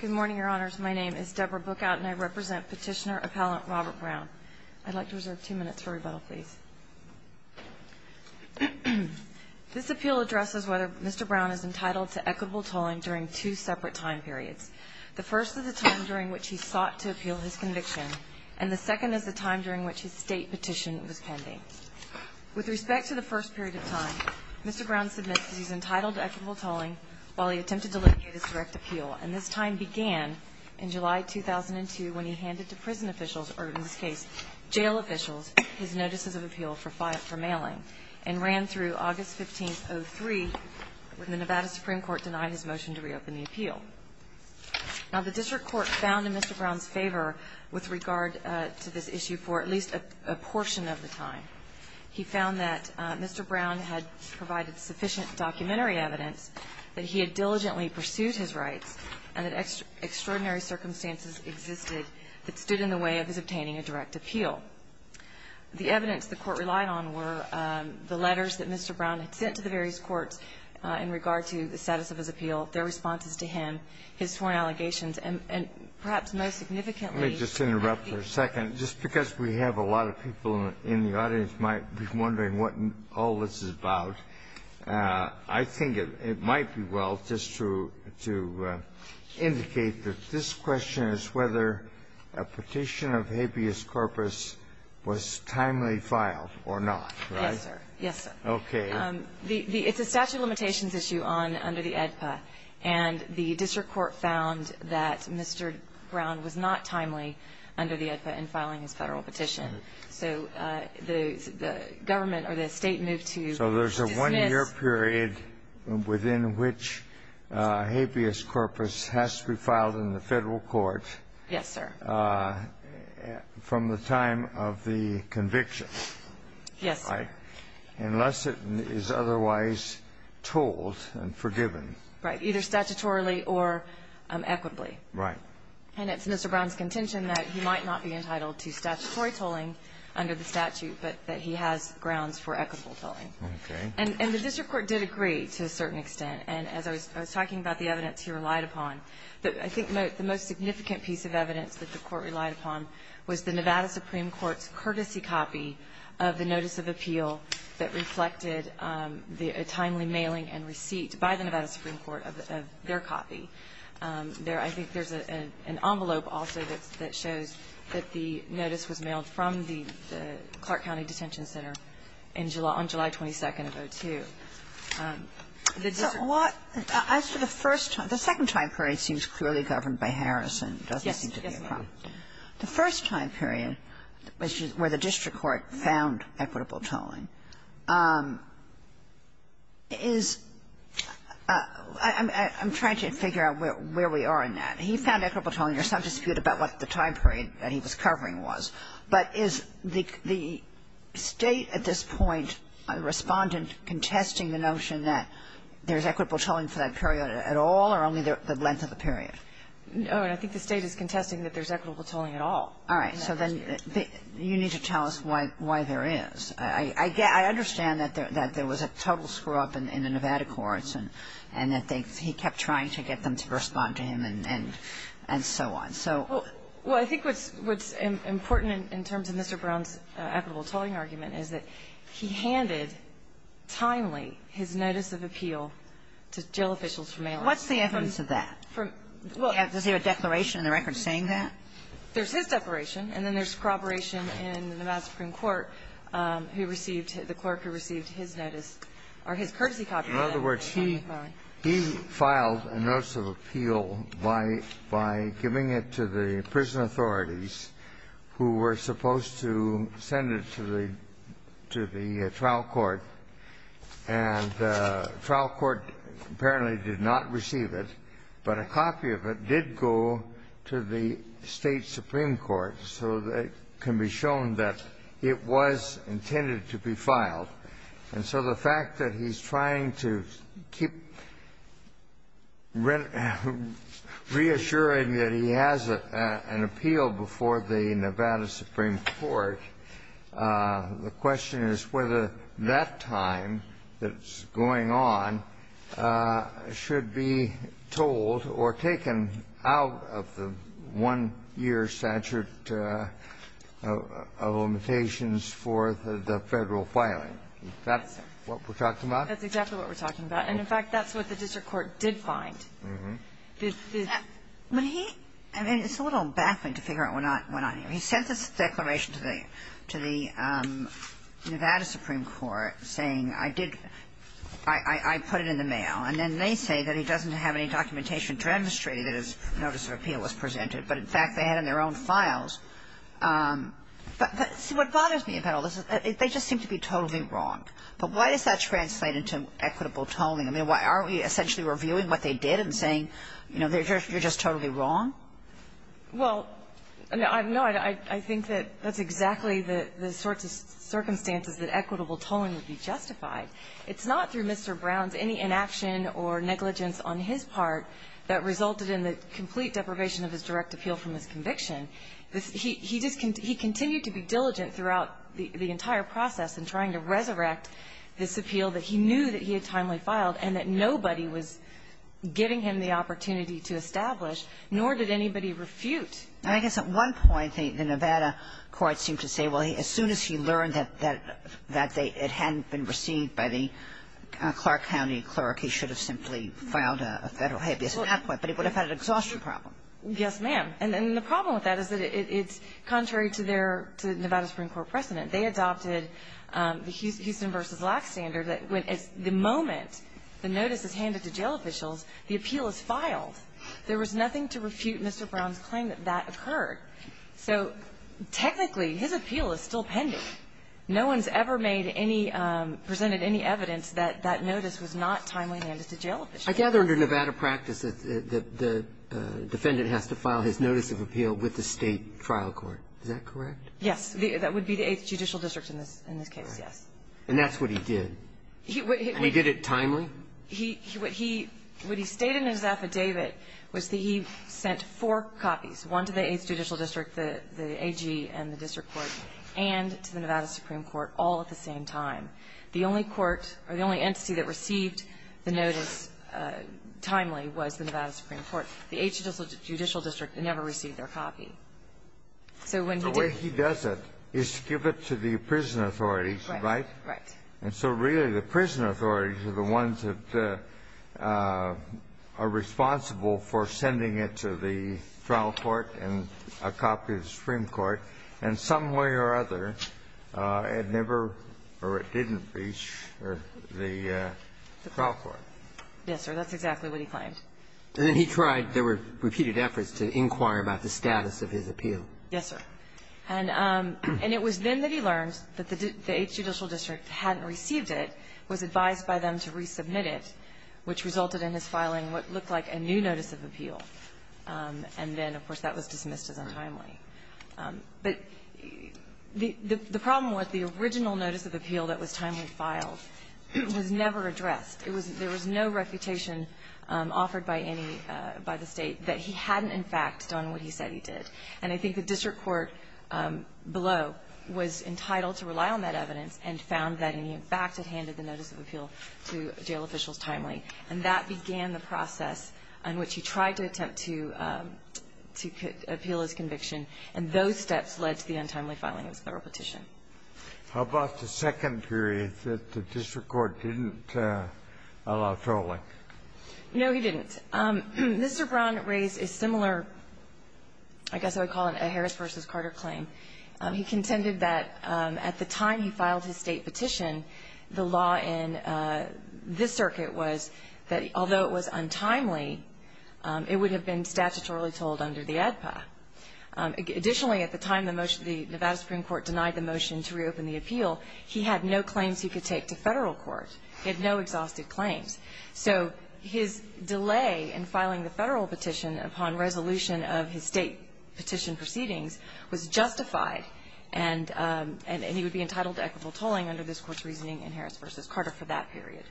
Good morning, Your Honors. My name is Deborah Bookout, and I represent Petitioner Appellant Robert Brown. I'd like to reserve two minutes for rebuttal, please. This appeal addresses whether Mr. Brown is entitled to equitable tolling during two separate time periods. The first is the time during which he sought to appeal his conviction, and the second is the time during which his State petition was pending. With respect to the first period of time, Mr. Brown submits that he's entitled to equitable tolling while he attempted to litigate his direct appeal. And this time began in July 2002 when he handed to prison officials, or in this case, jail officials, his notices of appeal for mailing, and ran through August 15, 2003, when the Nevada Supreme Court denied his motion to reopen the appeal. Now, the district court found in Mr. Brown's favor with regard to this issue for at least a portion of the time. He found that Mr. Brown had provided sufficient documentary evidence that he had diligently pursued his rights and that extraordinary circumstances existed that stood in the way of his obtaining a direct appeal. The evidence the Court relied on were the letters that Mr. Brown had sent to the various courts in regard to the status of his appeal, their responses to him, his sworn allegations, and perhaps most significantly. Let me just interrupt for a second. Just because we have a lot of people in the audience might be wondering what all this is about, I think it might be well just to indicate that this question is whether a petition of habeas corpus was timely filed or not, right? Yes, sir. Yes, sir. Okay. It's a statute of limitations issue under the AEDPA, and the district court found that Mr. Brown was not timely under the AEDPA in filing his Federal petition. So the government or the State moved to dismiss. So there's a one-year period within which habeas corpus has to be filed in the Federal court. Yes, sir. From the time of the conviction. Yes, sir. And that's why, unless it is otherwise told and forgiven. Right. Either statutorily or equitably. Right. And it's Mr. Brown's contention that he might not be entitled to statutory tolling under the statute, but that he has grounds for equitable tolling. Okay. And the district court did agree to a certain extent. And as I was talking about the evidence he relied upon, I think the most significant piece of evidence that the court relied upon was the Nevada Supreme Court's courtesy copy of the notice of appeal that reflected the timely mailing and receipt by the Nevada Supreme Court of their copy. I think there's an envelope also that shows that the notice was mailed from the Clark County Detention Center on July 22nd of 2002. So what the first time, the second time period seems clearly governed by Harrison. It doesn't seem to be a problem. Yes. The first time period where the district court found equitable tolling is, I'm trying to figure out where we are in that. He found equitable tolling. There's some dispute about what the time period that he was covering was. But is the State at this point, Respondent, contesting the notion that there's equitable tolling for that period at all or only the length of the period? No. And I think the State is contesting that there's equitable tolling at all. All right. So then you need to tell us why there is. I understand that there was a total screw-up in the Nevada courts and that he kept trying to get them to respond to him and so on. Well, I think what's important in terms of Mr. Brown's equitable tolling argument is that he handed timely his notice of appeal to jail officials for mailing. What's the evidence of that? Does he have a declaration in the record saying that? There's his declaration and then there's corroboration in the Madison Supreme Court who received, the clerk who received his notice or his courtesy copy of that. In other words, he filed a notice of appeal by giving it to the prison authorities who were supposed to send it to the trial court, and the trial court apparently did not receive it, but a copy of it did go to the State supreme court so that it can be shown that it was intended to be filed. And so the fact that he's trying to keep reassuring that he has an appeal before the Nevada supreme court, the question is whether that time that's going on should be told or taken out of the one-year statute of limitations for the Federal filing. Is that what we're talking about? That's exactly what we're talking about. And, in fact, that's what the district court did find. When he – I mean, it's a little baffling to figure out what went on here. He sent this declaration to the Nevada supreme court saying, I did – I put it in the mail, and then they say that he doesn't have any documentation to demonstrate that his notice of appeal was presented. But, in fact, they had in their own files. But see, what bothers me about all this is they just seem to be totally wrong. But why does that translate into equitable tolling? I mean, why aren't we essentially reviewing what they did and saying, you know, you're just totally wrong? Well, no. I think that that's exactly the sorts of circumstances that equitable tolling would be justified. It's not through Mr. Brown's any inaction or negligence on his part that resulted in the complete deprivation of his direct appeal from his conviction. He just – he continued to be diligent throughout the entire process in trying to resurrect this appeal that he knew that he had timely filed and that nobody was giving him the opportunity to establish, nor did anybody refute. And I guess at one point, the Nevada court seemed to say, well, as soon as he learned that it hadn't been received by the Clark County clerk, he should have simply filed a Federal habeas at that point. But it would have had an exhaustion problem. Yes, ma'am. And the problem with that is that it's contrary to their – to Nevada Supreme Court precedent. They adopted the Houston v. Lack standard that when – at the moment the notice is handed to jail officials, the appeal is filed. There was nothing to refute Mr. Brown's claim that that occurred. So technically, his appeal is still pending. No one's ever made any – presented any evidence that that notice was not timely handed to jail officials. I gather under Nevada practice that the defendant has to file his notice of appeal with the State trial court. Is that correct? Yes. That would be the Eighth Judicial District in this case, yes. Right. And that's what he did? He – And he did it timely? He – what he stated in his affidavit was that he sent four copies, one to the Eighth Judicial District, the AG and the district court, and to the Nevada Supreme Court all at the same time. The only court or the only entity that received the notice timely was the Nevada Supreme Court. The Eighth Judicial District never received their copy. So when he did – The way he does it is to give it to the prison authorities, right? Right. And so really the prison authorities are the ones that are responsible for sending it to the trial court and a copy to the Supreme Court. And some way or other, it never or it didn't reach the trial court. Yes, sir. That's exactly what he claimed. And then he tried – there were repeated efforts to inquire about the status of his appeal. Yes, sir. And it was then that he learned that the Eighth Judicial District hadn't received it, was advised by them to resubmit it, which resulted in his filing what looked like a new notice of appeal. And then, of course, that was dismissed as untimely. But the problem was the original notice of appeal that was timely filed was never addressed. It was – there was no reputation offered by any – by the State that he hadn't, in fact, done what he said he did. And I think the district court below was entitled to rely on that evidence and found that he, in fact, had handed the notice of appeal to jail officials timely. And that began the process in which he tried to attempt to – to appeal his conviction. And those steps led to the untimely filing of his Federal petition. How about the second period that the district court didn't allow trolling? No, he didn't. Mr. Brown raised a similar, I guess I would call it a Harris v. Carter claim. He contended that at the time he filed his State petition, the law in this circuit was that although it was untimely, it would have been statutorily told under the ADPA. Additionally, at the time the Nevada Supreme Court denied the motion to reopen the appeal, he had no claims he could take to Federal court. He had no exhausted claims. So his delay in filing the Federal petition upon resolution of his State petition proceedings was justified, and he would be entitled to equitable tolling under this period.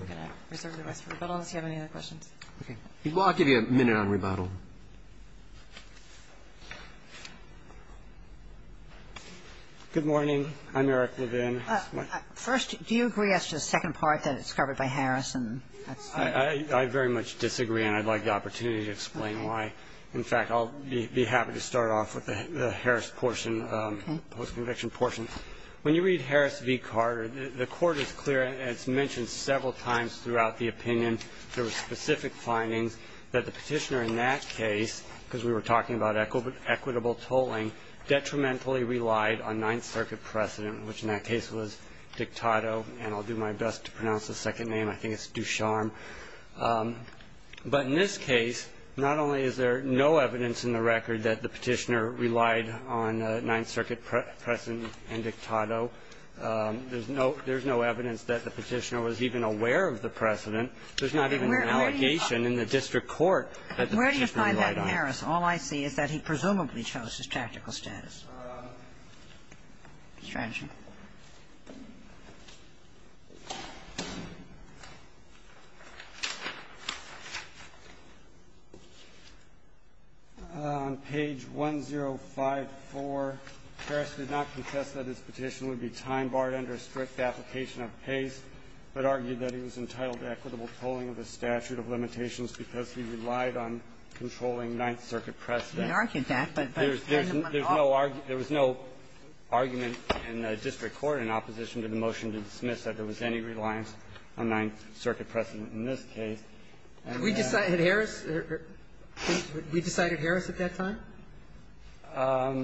I'm going to reserve the rest for rebuttals. Do you have any other questions? Okay. Well, I'll give you a minute on rebuttal. Good morning. I'm Eric Levin. First, do you agree as to the second part that it's covered by Harris? I very much disagree, and I'd like the opportunity to explain why. In fact, I'll be happy to start off with the Harris portion, the post-conviction portion. When you read Harris v. Carter, the court is clear, and it's mentioned several times throughout the opinion, there were specific findings that the petitioner in that case, because we were talking about equitable tolling, detrimentally relied on Ninth Circuit precedent, which in that case was Dictato, and I'll do my best to pronounce the second name. I think it's Ducharme. But in this case, not only is there no evidence in the record that the petitioner relied on Ninth Circuit precedent and Dictato. There's no evidence that the petitioner was even aware of the precedent. There's not even an allegation in the district court that the petitioner relied on. Where do you find that in Harris? All I see is that he presumably chose his tactical status. On page 1054, Harris did not contest that his petition would be time-barred under a strict application of pace, but argued that he was entitled to equitable tolling of the statute of limitations because he relied on controlling Ninth Circuit There was no argument in the district court in opposition to the motion to dismiss that there was any reliance on Ninth Circuit precedent in this case. We decided Harris at that time?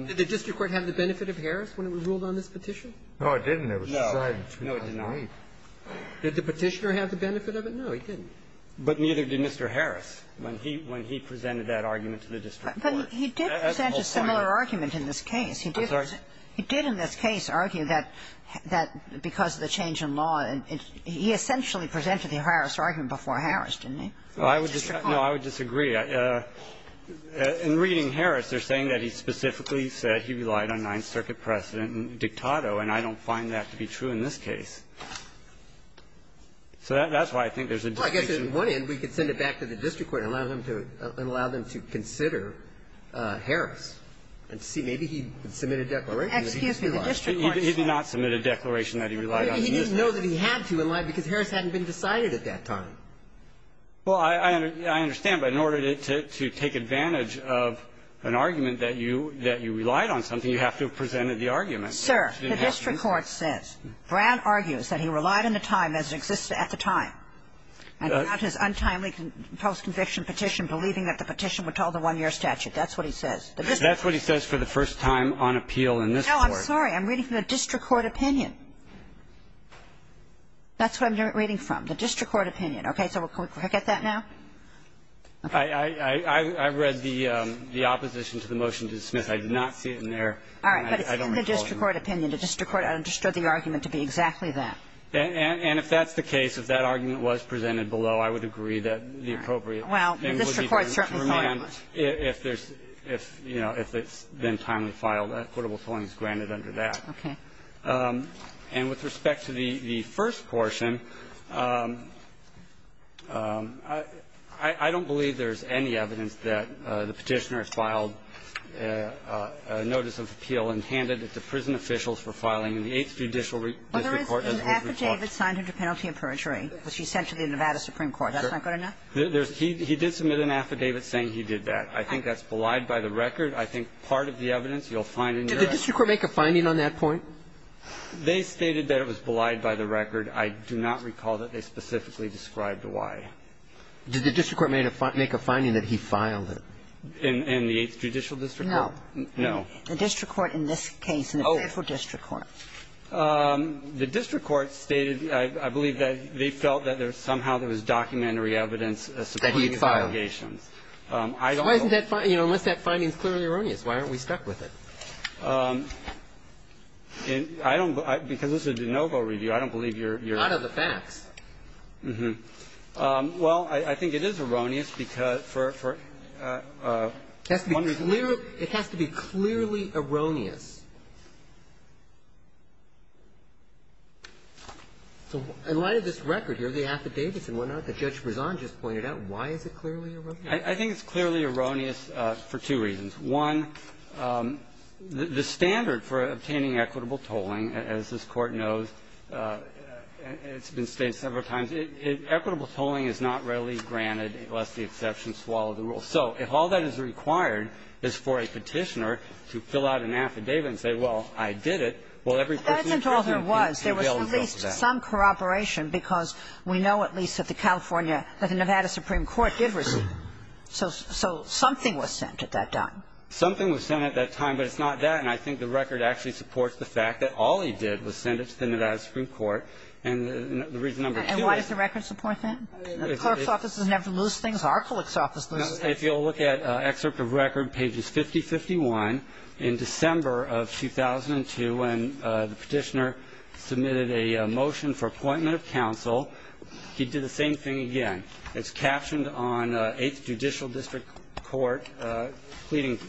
Did the district court have the benefit of Harris when it was ruled on this petition? No, it didn't. No. No, it did not. Did the petitioner have the benefit of it? No, he didn't. But neither did Mr. Harris when he presented that argument to the district court. But he did present a similar argument in this case. I'm sorry? He did in this case argue that because of the change in law, he essentially presented the Harris argument before Harris, didn't he? No, I would disagree. In reading Harris, they're saying that he specifically said he relied on Ninth Circuit precedent and dictato, and I don't find that to be true in this case. So that's why I think there's a distinction. Well, I guess on one end we could send it back to the district court and allow them to consider Harris and see maybe he submitted a declaration that he relied on. Excuse me. The district court said. He did not submit a declaration that he relied on Ninth Circuit precedent. He didn't know that he had to in line because Harris hadn't been decided at that time. Well, I understand, but in order to take advantage of an argument that you relied on something, you have to have presented the argument. Sir, the district court says. Brown argues that he relied on the time as it existed at the time. And about his untimely post-conviction petition, believing that the petition would tell the one-year statute, that's what he says. That's what he says for the first time on appeal in this court. No, I'm sorry. I'm reading from the district court opinion. That's what I'm reading from, the district court opinion. Okay. So can we get that now? I read the opposition to the motion to dismiss. I did not see it in there. All right. But it's in the district court opinion. The district court understood the argument to be exactly that. And if that's the case, if that argument was presented below, I would agree that the appropriate thing would be done to remand if there's, you know, if it's been timely filed, equitable tolling is granted under that. Okay. And with respect to the first portion, I don't believe there's any evidence that the petitioner filed a notice of appeal and handed it to prison officials for filing in the Eighth Judicial District Court. Well, there is an affidavit signed under penalty of perjury, which he sent to the Nevada Supreme Court. That's not good enough? He did submit an affidavit saying he did that. I think that's belied by the record. I think part of the evidence you'll find in your evidence. Did the district court make a finding on that point? They stated that it was belied by the record. I do not recall that they specifically described why. Did the district court make a finding that he filed it? In the Eighth Judicial District Court? No. No. The district court in this case, in the faithful district court. The district court stated, I believe, that they felt that somehow there was documentary evidence supporting the allegations. That he had filed. I don't know. Why isn't that, you know, unless that finding is clearly erroneous. Why aren't we stuck with it? I don't, because this is a de novo review. I don't believe you're. Out of the facts. Uh-huh. Well, I think it is erroneous because for one point of view. It has to be clearly erroneous. In light of this record here, the affidavits and whatnot that Judge Brezon just pointed out, why is it clearly erroneous? I think it's clearly erroneous for two reasons. One, the standard for obtaining equitable tolling, as this Court knows, and it's been stated several times, equitable tolling is not readily granted unless the exception swallows the rule. So if all that is required is for a Petitioner to fill out an affidavit and say, well, I did it, well, every person in prison can bail himself out. That isn't all there was. There was at least some corroboration because we know at least that the California or the Nevada Supreme Court did receive it. So something was sent at that time. Something was sent at that time, but it's not that. And I think the record actually supports the fact that all he did was send it to the Nevada Supreme Court. So the reason number two is the record supports that? The clerk's office doesn't have to lose things. Our clerk's office loses things. If you'll look at excerpt of record, pages 5051, in December of 2002, when the Petitioner submitted a motion for appointment of counsel, he did the same thing again. It's captioned on Eighth Judicial District Court pleading,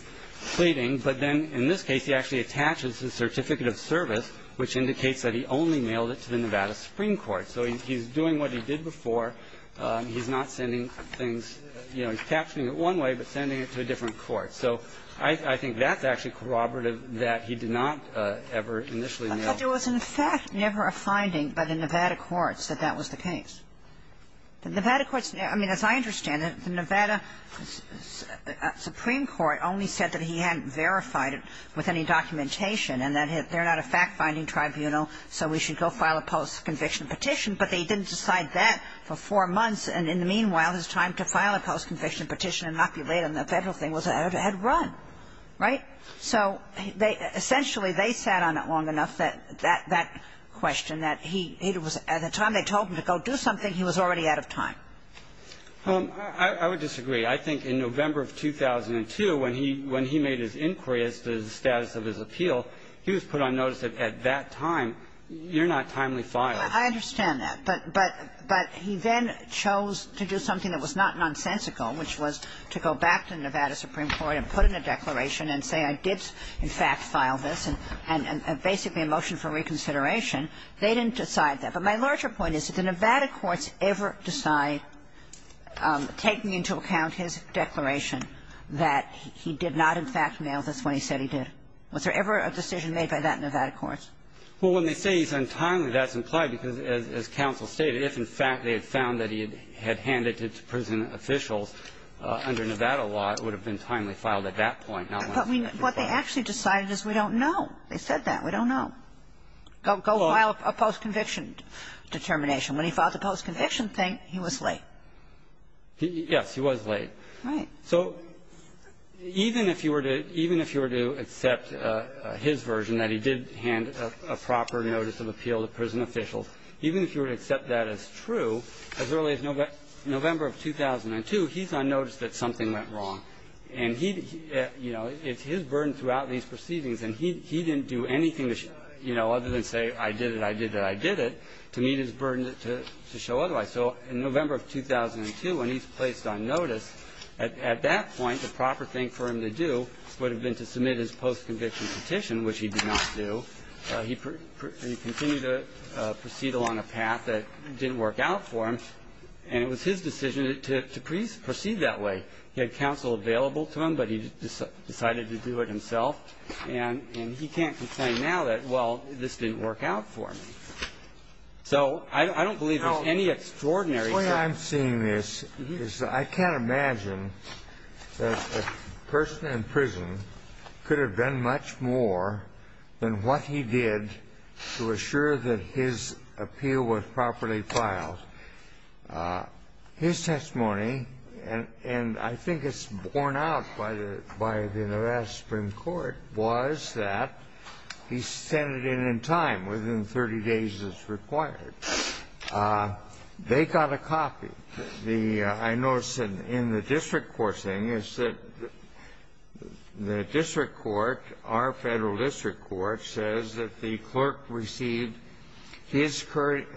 but then in this case, he actually attaches the Certificate of Service, which indicates that he only mailed it to the Nevada Supreme Court. So he's doing what he did before. He's not sending things. You know, he's captioning it one way, but sending it to a different court. So I think that's actually corroborative that he did not ever initially mail. But there was, in fact, never a finding by the Nevada courts that that was the case. The Nevada courts, I mean, as I understand it, the Nevada Supreme Court only said that he hadn't verified it with any documentation and that they're not a fact-finding tribunal, so we should go file a post-conviction petition. But they didn't decide that for four months. And in the meanwhile, his time to file a post-conviction petition and not be late on the Federal thing was out ahead of run. Right? So essentially, they sat on it long enough, that question, that he was at the time they told him to go do something, he was already out of time. I would disagree. I think in November of 2002, when he made his inquiry as to the status of his appeal, he was put on notice that at that time, you're not timely filed. I understand that. But he then chose to do something that was not nonsensical, which was to go back to the Nevada Supreme Court and put in a declaration and say, I did, in fact, file this, and basically a motion for reconsideration. They didn't decide that. But my larger point is, did the Nevada courts ever decide, taking into account his declaration, that he did not, in fact, mail this when he said he did? Was there ever a decision made by that Nevada courts? Well, when they say he's untimely, that's implied because, as counsel stated, if, in fact, they had found that he had handed it to prison officials under Nevada law, it would have been timely filed at that point. But what they actually decided is we don't know. They said that. We don't know. Go file a post-conviction determination. When he filed the post-conviction thing, he was late. Yes. He was late. Right. So even if you were to accept his version, that he did hand a proper notice of appeal to prison officials, even if you were to accept that as true, as early as November of 2002, he's unnoticed that something went wrong. And he, you know, it's his burden throughout these proceedings. And he didn't do anything, you know, other than say, I did it, I did it, I did it, to meet his burden to show otherwise. So in November of 2002, when he's placed on notice, at that point, the proper thing for him to do would have been to submit his post-conviction petition, which he did not do. He continued to proceed along a path that didn't work out for him. And it was his decision to proceed that way. He had counsel available to him, but he decided to do it himself. And he can't complain now that, well, this didn't work out for me. So I don't believe there's any extraordinary reason. The way I'm seeing this is I can't imagine that a person in prison could have been much more than what he did to assure that his appeal was properly filed. His testimony, and I think it's borne out by the U.S. Supreme Court, was that he sent it in in time, within 30 days as required. They got a copy. I noticed in the district court thing is that the district court, our Federal District Court, says that the clerk received his courtesy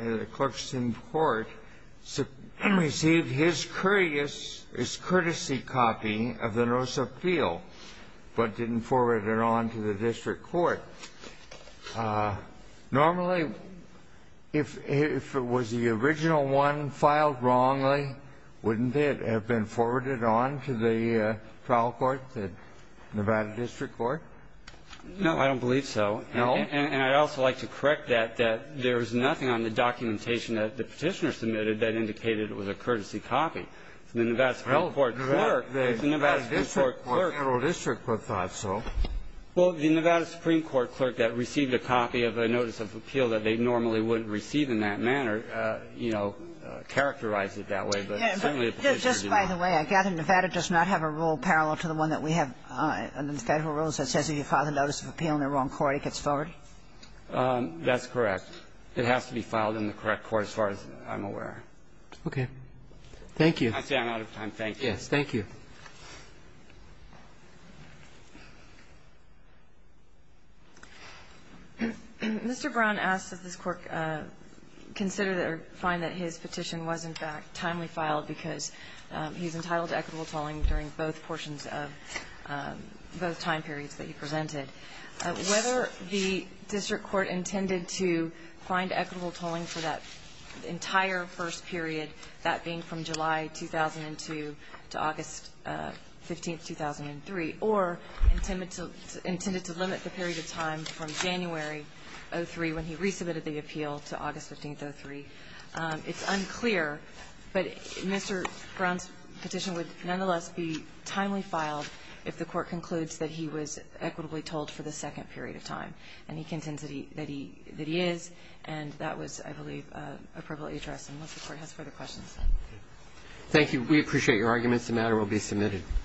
copy of the notice of appeal, but didn't forward it on to the district court. Normally, if it was the original one filed wrongly, wouldn't it have been forwarded on to the trial court, the Nevada District Court? No, I don't believe so. No? And I'd also like to correct that, that there was nothing on the documentation that the Petitioner submitted that indicated it was a courtesy copy. The Nevada Supreme Court clerk, the Nevada Supreme Court clerk. Well, the Federal District Court thought so. Well, the Nevada Supreme Court clerk that received a copy of a notice of appeal that they normally wouldn't receive in that manner, you know, characterized it that way, but certainly the Petitioner did not. Yes, but just by the way, I gather Nevada does not have a rule parallel to the one that we have under the Federal rules that says if you file a notice of appeal in the wrong court, it gets forwarded? That's correct. It has to be filed in the correct court, as far as I'm aware. Okay. Thank you. I'd say I'm out of time. Thank you. Yes, thank you. Mr. Brown asks that this Court consider or find that his petition was, in fact, timely filed because he's entitled to equitable tolling during both portions of both time periods that he presented. Whether the district court intended to find equitable tolling for that entire first period, that being from July 2002 to August 15th, 2003, or intended to limit the period of time from January 03 when he resubmitted the appeal to August 15th, 03, it's unclear. But Mr. Brown's petition would nonetheless be timely filed if the Court concludes that he was equitably tolled for the second period of time. And he contends that he is. And that was, I believe, appropriately addressed. Unless the Court has further questions. Thank you. We appreciate your arguments. The matter will be submitted.